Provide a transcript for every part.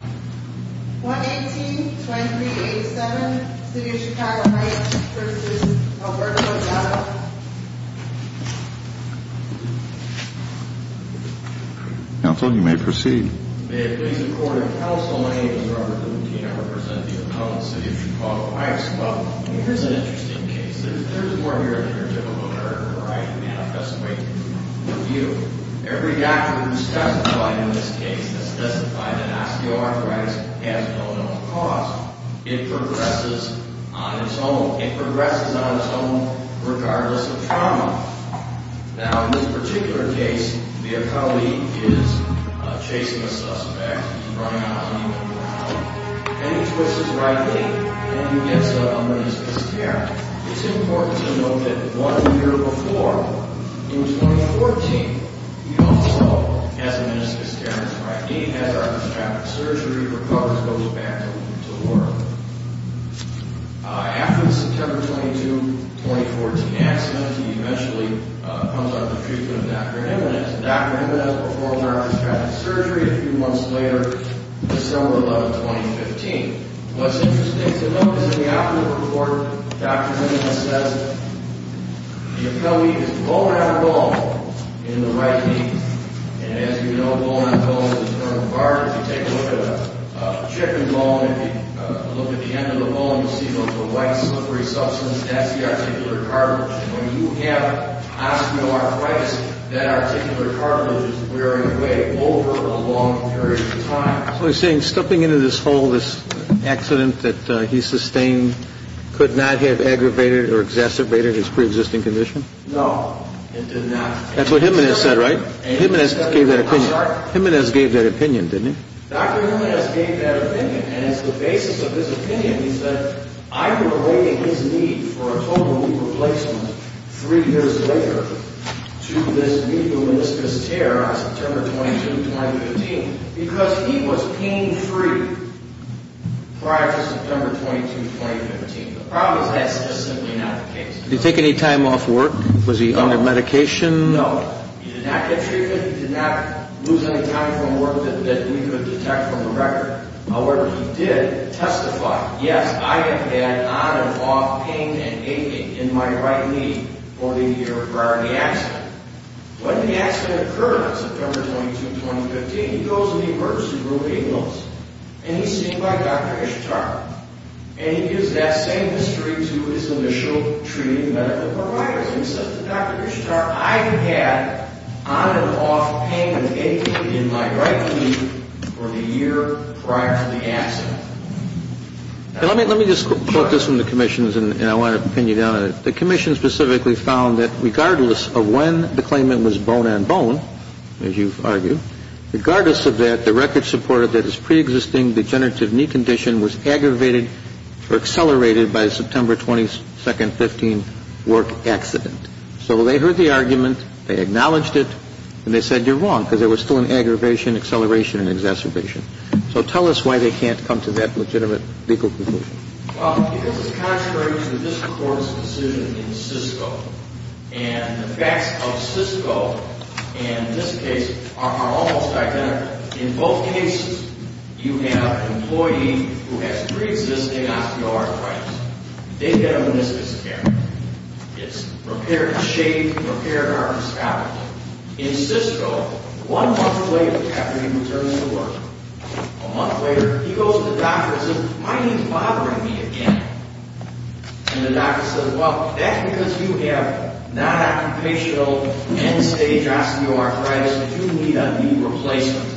118-2387, City of Chicago Heights v. Alberto Gallo May it please the Court of Counsel, my name is Robert Lutino. I represent the opponents of the City of Chicago Heights. Well, here's an interesting case. There's more here than your typical voter manifest way to review. Every doctor who's testified in this case has testified that osteoarthritis has no known cause. It progresses on its own. It progresses on its own regardless of trauma. Now, in this particular case, your colleague is chasing a suspect. He's running out on you, and you're out. And he twists it rightly, and he gets an unreasonable scare. It's important to note that one year before, in 2014, he also has a meniscus tear in his right knee. He has arthrostatic surgery. He recovers, goes back to work. After the September 22, 2014 accident, he eventually comes under the treatment of Dr. Jimenez. Dr. Jimenez performed arthrostatic surgery a few months later, December 11, 2015. What's interesting to note is in the operative report, Dr. Jimenez says your colleague is bone-on-bone in the right knee. And as you know, bone-on-bone is a term of art. If you take a look at a chicken bone, if you look at the end of the bone, you'll see there's a white, slippery substance. That's the articular cartilage. And when you have osteoarthritis, that articular cartilage is wearing away over a long period of time. So you're saying stepping into this hole, this accident that he sustained, could not have aggravated or exacerbated his preexisting condition? No, it did not. That's what Jimenez said, right? Jimenez gave that opinion. I'm sorry? Jimenez gave that opinion, didn't he? Dr. Jimenez gave that opinion, and it's the basis of his opinion. He said, I'm relating his need for a total knee replacement three years later to this knee lumeniscus tear on September 22, 2015, because he was pain-free prior to September 22, 2015. The problem is that's just simply not the case. Did he take any time off work? Was he on a medication? No, he did not get treatment. He did not lose any time from work that we could detect from the record. However, he did testify, yes, I have had on and off pain and aching in my right knee for the year prior to the accident. When the accident occurred on September 22, 2015, he goes in the emergency room at Ingalls, and he's seen by Dr. Ishtar, and he gives that same mystery to his initial treating medical providers. He says to Dr. Ishtar, I have had on and off pain and aching in my right knee for the year prior to the accident. Let me just quote this from the commissions, and I want to pin you down on it. The commission specifically found that regardless of when the claimant was bone-on-bone, as you've argued, regardless of that, the record supported that his preexisting degenerative knee condition was aggravated or accelerated by the September 22, 2015 work accident. So they heard the argument, they acknowledged it, and they said you're wrong because there was still an aggravation, acceleration, and exacerbation. So tell us why they can't come to that legitimate legal conclusion. Well, because it's contrary to the district court's decision in Sysco, and the facts of Sysco and this case are almost identical. In both cases, you have an employee who has preexisting osteoarthritis. They get a meniscus care. It's repair and shave, repair and arthroscopic. In Sysco, one month later after he returns to work, a month later he goes to the doctor and says, my knee's bothering me again. And the doctor says, well, that's because you have non-occupational end-stage osteoarthritis. You need a knee replacement.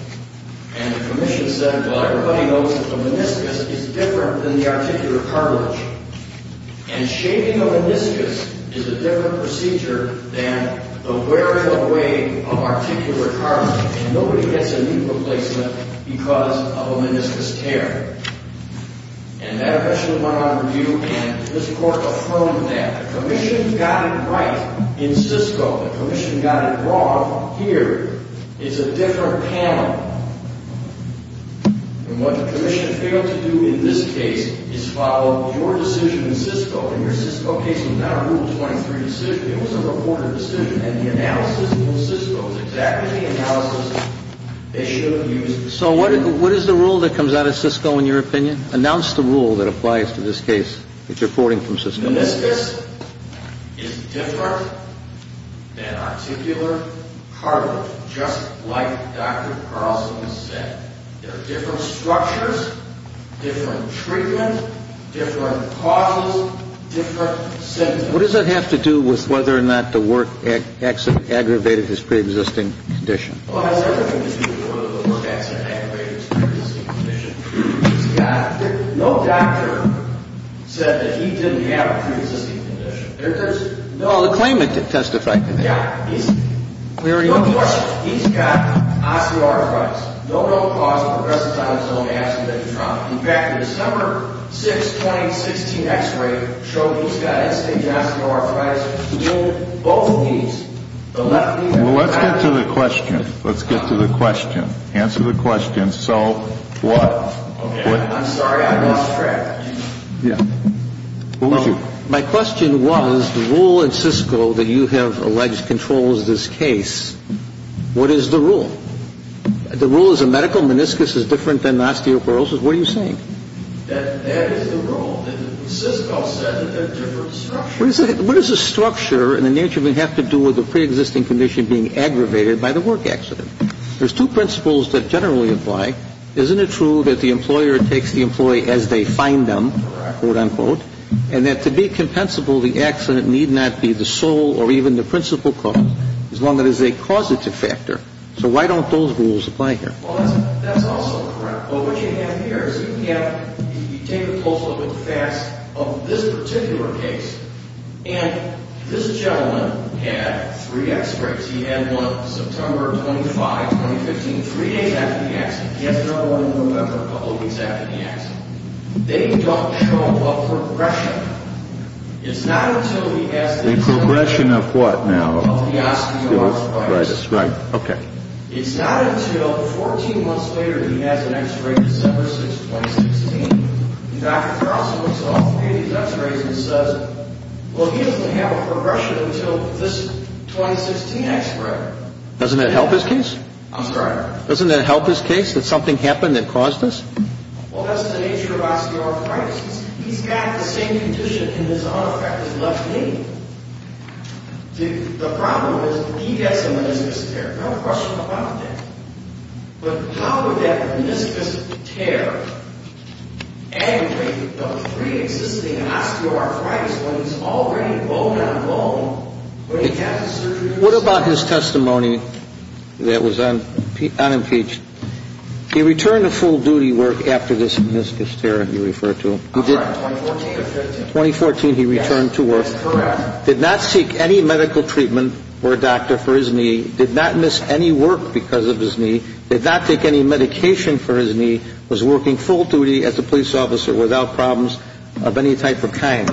And the commission said, well, everybody knows that the meniscus is different than the articular cartilage. And shaving a meniscus is a different procedure than the wearing away of articular cartilage. And nobody gets a knee replacement because of a meniscus tear. And that eventually went on review, and this court affirmed that. The commission got it right in Sysco. The commission got it wrong here. It's a different panel. And what the commission failed to do in this case is follow your decision in Sysco. And your Sysco case was not a Rule 23 decision. It was a reported decision. And the analysis in Sysco is exactly the analysis they should have used. So what is the rule that comes out of Sysco in your opinion? Announce the rule that applies to this case that you're reporting from Sysco. Meniscus is different than articular cartilage, just like Dr. Carlson said. There are different structures, different treatment, different causes, different symptoms. What does that have to do with whether or not the work accident aggravated his preexisting condition? Well, that has everything to do with whether the work accident aggravated his preexisting condition. He's got no doctor said that he didn't have a preexisting condition. There's no one. No, the claimant did testify today. Yeah. We already know that. No question. He's got osteoarthritis. No known cause of progressive thymus, no massive leg trauma. In fact, the December 6, 2016 X-ray showed he's got instant osteoarthritis in both knees, the left knee and the right knee. Well, let's get to the question. Let's get to the question. Answer the question. So what? Okay. I'm sorry. I lost track. Yeah. Who was you? My question was the rule in Sysco that you have alleged controls this case. What is the rule? The rule is a medical meniscus is different than osteoarthritis. What are you saying? That is the rule. Sysco said that they're different structures. What is the structure and the nature of it have to do with the preexisting condition being aggravated by the work accident? There's two principles that generally apply. Isn't it true that the employer takes the employee as they find them, quote, unquote, and that to be compensable, the accident need not be the sole or even the principal cause, as long as they cause it to factor? So why don't those rules apply here? Well, that's also correct. But what you have here is you can have you take a close look at the facts of this particular case, and this gentleman had three x-rays. He had one September 25, 2015, three days after the accident. He has another one in November, a couple of weeks after the accident. They don't show a progression. It's not until he has the- A progression of what now? Of the osteoarthritis. Right. Okay. It's not until 14 months later that he has an x-ray December 6, 2016, and Dr. Carlson looks at all three of these x-rays and says, well, he doesn't have a progression until this 2016 x-ray. Doesn't that help his case? I'm sorry? Doesn't that help his case that something happened that caused this? Well, that's the nature of osteoarthritis. He's got the same condition in his unaffected left knee. The problem is he has a meniscus tear. No question about that. But how would that meniscus tear aggravate the preexisting osteoarthritis when he's already bone-on-bone when he had the surgery? What about his testimony that was unimpeached? He returned to full duty work after this meniscus tear you refer to. 2014 or 2015? 2014, he returned to work. That's correct. Did not seek any medical treatment for a doctor for his knee, did not miss any work because of his knee, did not take any medication for his knee, was working full duty as a police officer without problems of any type of kind.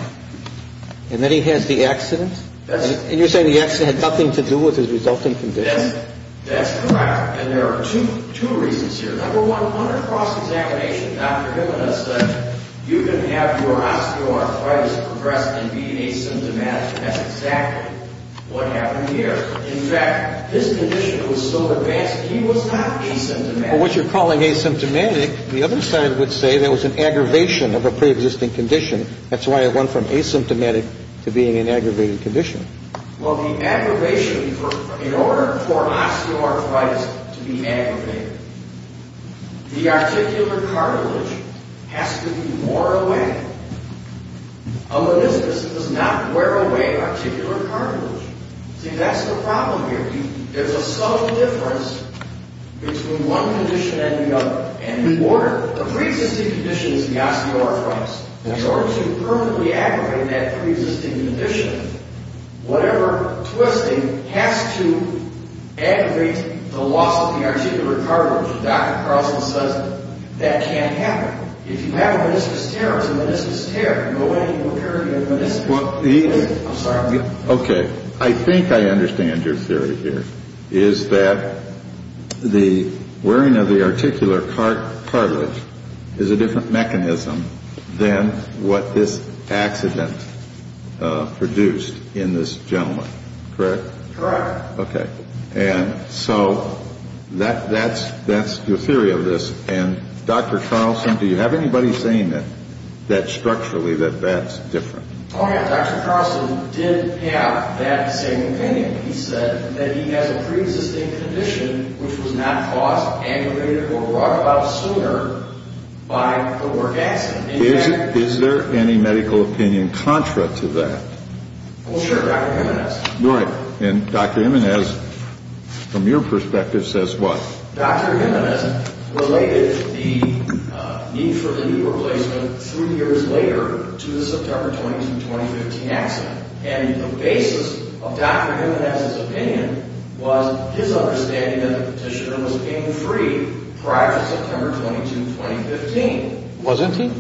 And then he has the accident? And you're saying the accident had nothing to do with his resulting condition? That's correct. And there are two reasons here. Number one, under cross-examination, you can have your osteoarthritis progressed and be asymptomatic. That's exactly what happened here. In fact, his condition was so advanced he was not asymptomatic. But what you're calling asymptomatic, the other side would say that was an aggravation of a preexisting condition. That's why it went from asymptomatic to being an aggravated condition. Well, the aggravation in order for osteoarthritis to be aggravated, the articular cartilage has to be wore away. A meniscus does not wear away articular cartilage. See, that's the problem here. There's a subtle difference between one condition and the other. And the preexisting condition is the osteoarthritis. In order to permanently aggravate that preexisting condition, whatever twisting has to aggravate the loss of the articular cartilage Dr. Carlson says that can't happen. If you have a meniscus tear, it's a meniscus tear. Go in and repair your meniscus. I'm sorry, I'll get it. Okay. I think I understand your theory here, is that the wearing of the articular cartilage is a different mechanism than what this accident produced in this gentleman, correct? Correct. Okay. And so that's your theory of this. And, Dr. Carlson, do you have anybody saying that structurally that that's different? Oh, yeah. Dr. Carlson did have that same opinion. He said that he has a preexisting condition which was not caused, aggravated, or brought about sooner by the work accident. Is there any medical opinion contra to that? Well, sure, Dr. Jimenez. You're right. And Dr. Jimenez, from your perspective, says what? Dr. Jimenez related the need for the knee replacement three years later to the September 22, 2015 accident. And the basis of Dr. Jimenez's opinion was his understanding that the petitioner was being freed prior to September 22, 2015. Wasn't he?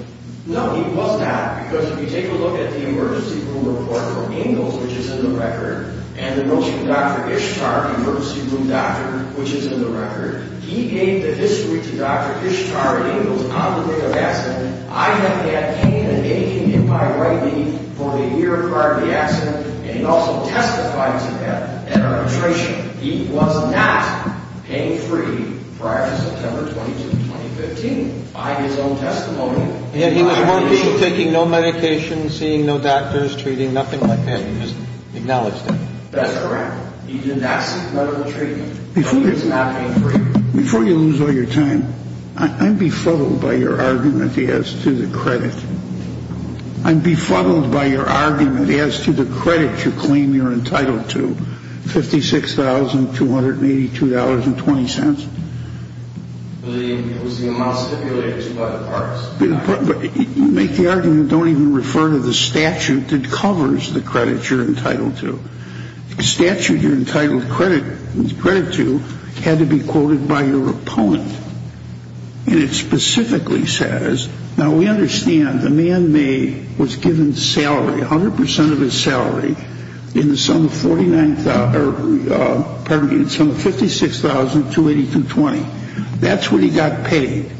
No, he was not. Because if you take a look at the emergency room report from Ingalls, which is in the record, and the notes from Dr. Ishtar, the emergency room doctor, which is in the record, he gave the history to Dr. Ishtar Ingalls on the day of the accident. I have that pain and aching in my right knee for the year prior to the accident. And he also testified to that at our arbitration. He was not pain-free prior to September 22, 2015. By his own testimony. He was working, taking no medication, seeing no doctors, treating, nothing like that. He just acknowledged it. That's correct. He did not seek medical treatment. He was not pain-free. Before you lose all your time, I'm befuddled by your argument as to the credit. I'm befuddled by your argument as to the credit you claim you're entitled to, $56,282.20. It was the amount stipulated by the parks. You make the argument, don't even refer to the statute that covers the credit you're entitled to. The statute you're entitled credit to had to be quoted by your opponent. And it specifically says, now we understand the man was given the salary, 100% of his salary in the sum of $56,282.20. That's what he got paid.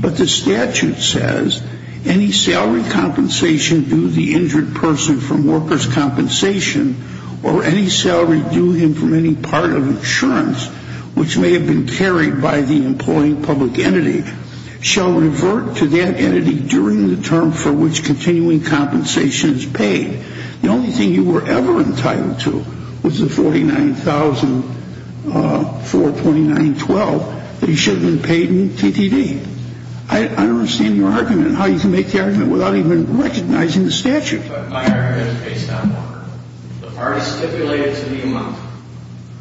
But the statute says, any salary compensation due the injured person from workers' compensation or any salary due him from any part of insurance which may have been carried by the employing public entity shall revert to that entity during the term for which continuing compensation is paid. The only thing you were ever entitled to was the $49,429.12 that you should have been paid in TTD. I don't understand your argument, how you can make the argument without even recognizing the statute. But my argument is based on what the parties stipulated to the amount.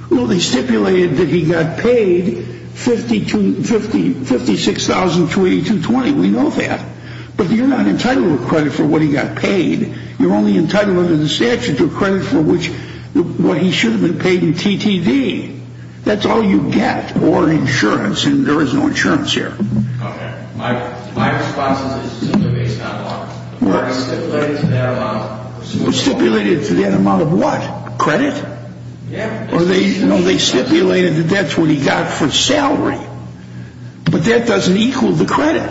Well, they stipulated that he got paid $56,282.20, we know that. But you're not entitled to credit for what he got paid. You're only entitled under the statute to credit for what he should have been paid in TTD. That's all you get, or insurance, and there is no insurance here. Okay. My response is simply based on what was stipulated to that amount. Stipulated to that amount of what? Credit? Yeah. Or they stipulated that that's what he got for salary. But that doesn't equal the credit.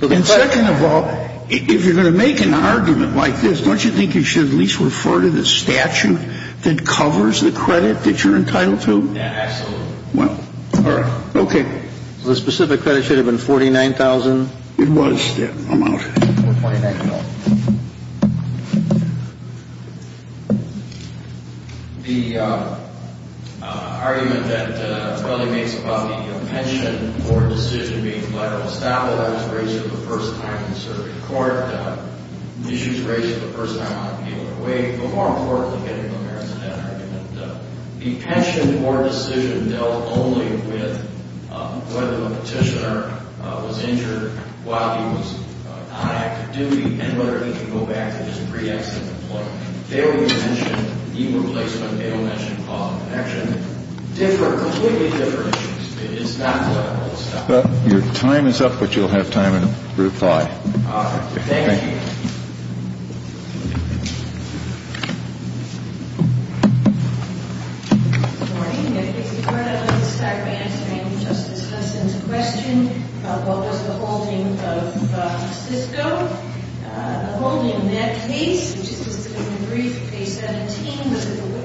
And second of all, if you're going to make an argument like this, don't you think you should at least refer to the statute that covers the credit that you're entitled to? Yeah, absolutely. Well, all right. Okay. The specific credit should have been $49,000. It was that amount. $49,000. Okay. The argument that my brother makes about the pension board decision being federal establishment, that was raised for the first time in the circuit court, the issue was raised for the first time on an appeal in a way, but more importantly getting to the merits of that argument, the pension board decision dealt only with whether the petitioner was injured while he was on active duty and whether he could go back to his pre-exit employment. They only mentioned email placement. They don't mention call and connection. Completely different issues. It's not political stuff. Your time is up, but you'll have time in group five. All right. Thank you. Good morning. Before I start answering Justice Hudson's question about what was the holding of Cisco, the holding in that case, which is just a brief case 17,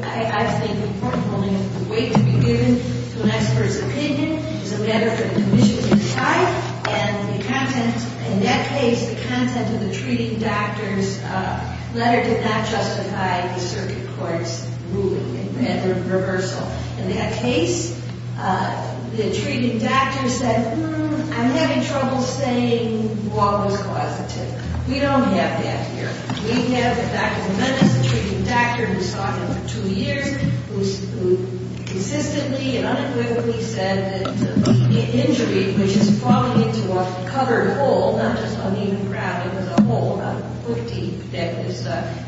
I think the important holding is the weight to be given to an expert's opinion. There's a letter from the commission to the side, and in that case the content of the treating doctor's letter did not justify the circuit court's ruling. In that case, the treating doctor said, hmm, I'm having trouble saying what was causative. We don't have that here. We have Dr. Jimenez, the treating doctor who saw him for two years, who consistently and unequivocally said that the injury, which is falling into a covered hole, not just uneven ground, it was a hole that was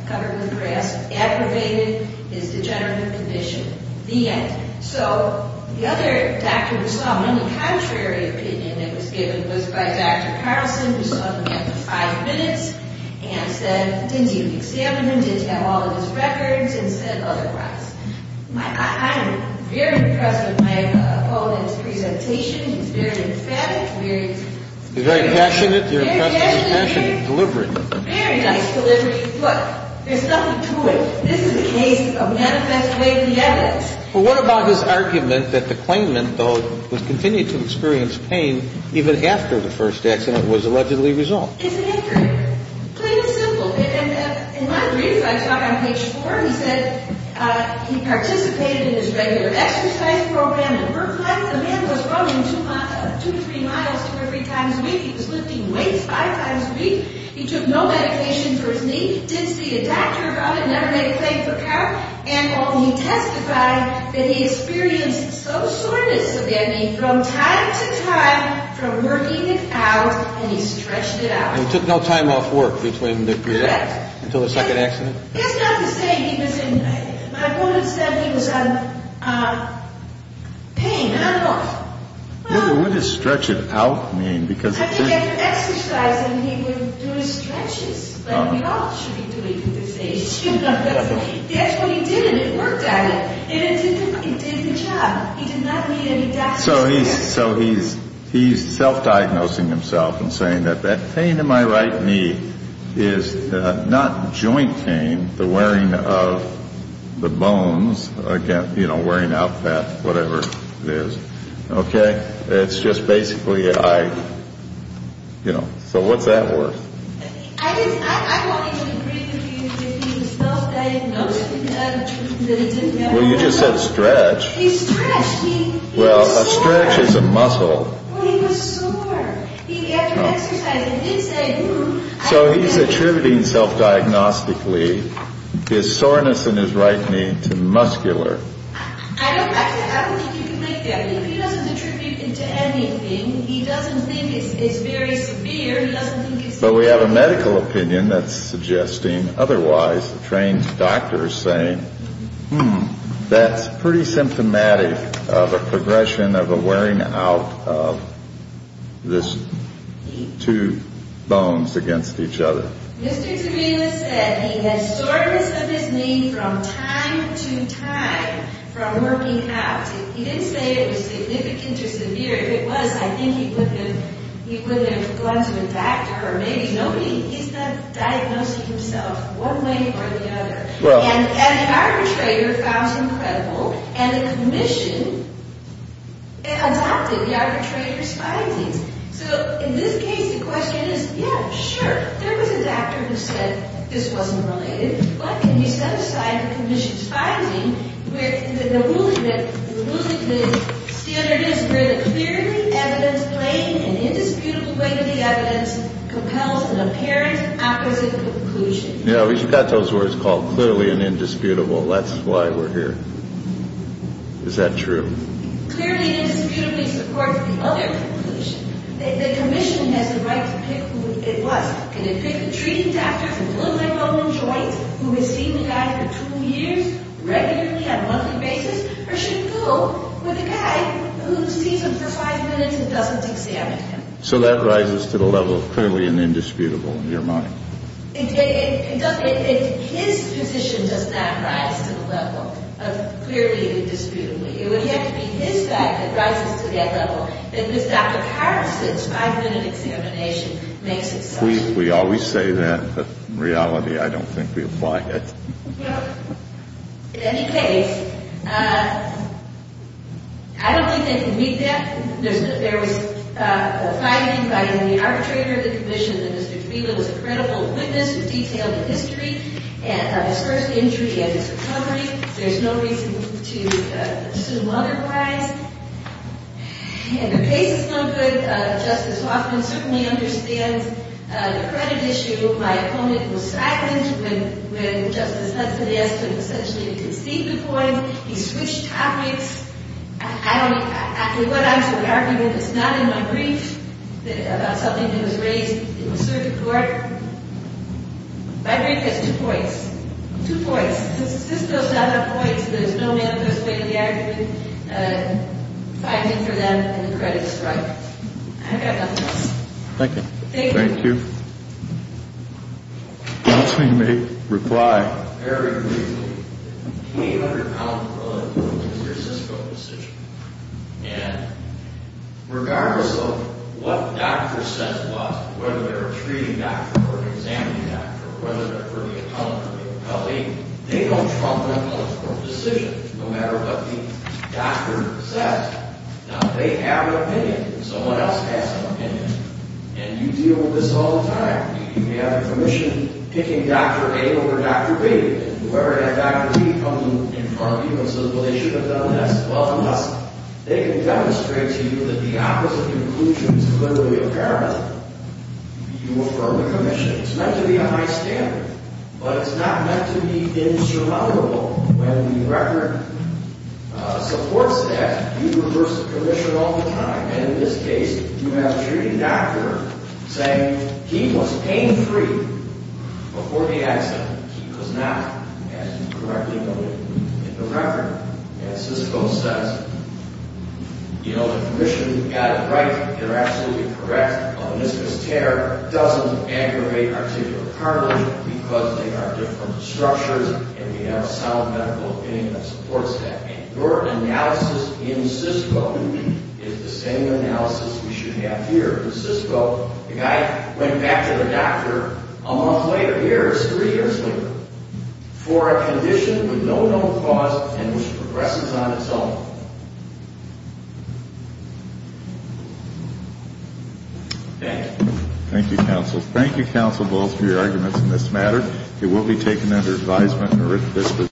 covered with grass, aggravated his degenerative condition. The end. So the other doctor who saw him, the contrary opinion that was given was by Dr. Carlson, who saw him after five minutes and said, didn't even examine him, didn't have all of his records, and said otherwise. I'm very impressed with my opponent's presentation. He's very emphatic. He's very passionate. Very passionate. Very nice delivery. Look, there's nothing to it. This is a case of manifest way of the evidence. Well, what about his argument that the claimant, though, would continue to experience pain even after the first accident was allegedly resolved? It's accurate. Plain and simple. In my brief, I saw it on page four. He said he participated in his regular exercise program. The man was running two or three miles two or three times a week. He was lifting weights five times a week. He took no medication for his knee. Didn't see a doctor about it. Never made a claim for power. And he testified that he experienced some soreness of the knee from time to time from working it out, and he stretched it out. And he took no time off work until the second accident? That's not to say he was in, my opponent said he was in pain. I don't know. What does stretch it out mean? So he's self-diagnosing himself and saying that that pain in my right knee is not joint pain, the wearing of the bones, again, you know, wearing out fat, whatever it is. Okay? It's just basically I, you know. So what's that worth? Well, you just said stretch. Well, a stretch is a muscle. Well, he was sore. He, after exercising, did say, ooh. So he's attributing self-diagnostically his soreness in his right knee to muscular. I don't think you can make that. He doesn't attribute it to anything. He doesn't think it's very severe. He doesn't think it's... But we have a medical opinion that's suggesting otherwise. The trained doctor is saying, hmm. That's pretty symptomatic of a progression of a wearing out of this two bones against each other. Mr. Torino said he had soreness of his knee from time to time from working out. He didn't say it was significant or severe. If it was, I think he wouldn't have gone to a doctor or maybe nobody. He's not diagnosing himself one way or the other. And the arbitrator found him credible. And the commission adopted the arbitrator's findings. So in this case, the question is, yeah, sure. There was a doctor who said this wasn't related. But can you set aside the commission's finding with the ruling that the rule of the standard is where the clearly evident, plain, and indisputable weight of the evidence compels an apparent opposite conclusion? Yeah, we've got those words called clearly and indisputable. That's why we're here. Is that true? Clearly and indisputably supports the other conclusion. The commission has the right to pick who it was. Can it pick the trained doctor from the low-lymphoma joints who has seen the guy for two years regularly on a monthly basis or should it go with the guy who sees him for five minutes and doesn't examine him? So that rises to the level of clearly and indisputable in your mind? It doesn't. His position does not rise to the level of clearly and indisputably. It would have to be his fact that rises to that level. And Dr. Carrickson's five-minute examination makes it such. We always say that. But in reality, I don't think we apply it. In any case, I don't think they can meet that. There was a finding by the arbitrator of the commission that Mr. Kabila was a credible witness who detailed the history of his first injury and his recovery. There's no reason to assume otherwise. In the face of some good, Justice Hoffman certainly understands the credit issue. My opponent was silenced when Justice Hudson asked him essentially to deceive the court. He switched topics. I don't – actually, what I'm supposed to argue with is not in my brief about something that was raised in the circuit court. My brief has two points. Two points. It's just those other points. There's no manifestation of the argument. The finding for them and the credit strike. I've got nothing else. Thank you. Thank you. Thank you. Counsel, you may reply. Very briefly. The 800-pound load is your Cisco decision. And regardless of what doctor says what, whether they're a treating doctor or an examining doctor or whether they're for the accountant or the appellee, they don't trump an appellate court decision no matter what the doctor says. Now, they have an opinion. Someone else has an opinion. And you deal with this all the time. You may have a commission picking Dr. A over Dr. B. Whoever had Dr. B come in front of you and said, well, they should have done this. Well, unless they can demonstrate to you that the opposite conclusion is clearly apparent, you affirm the commission. It's meant to be a high standard, but it's not meant to be insurmountable. When the record supports that, you reverse the commission all the time. And in this case, you have a treating doctor saying he was pain-free before the accident. He was not, as you correctly noted in the record. And Cisco says, you know, the commission got it right. They're absolutely correct. A meniscus tear doesn't aggravate articular cartilage because they are different structures and they have a solid medical opinion that supports that. And your analysis in Cisco is the same analysis we should have here. In Cisco, the guy went back to the doctor a month later, years, three years later, for a condition with no known cause and which progresses on its own. Thank you. Thank you, counsel. Thank you, counsel Bowles, for your arguments in this matter. It will be taken under advisement in a written disposition.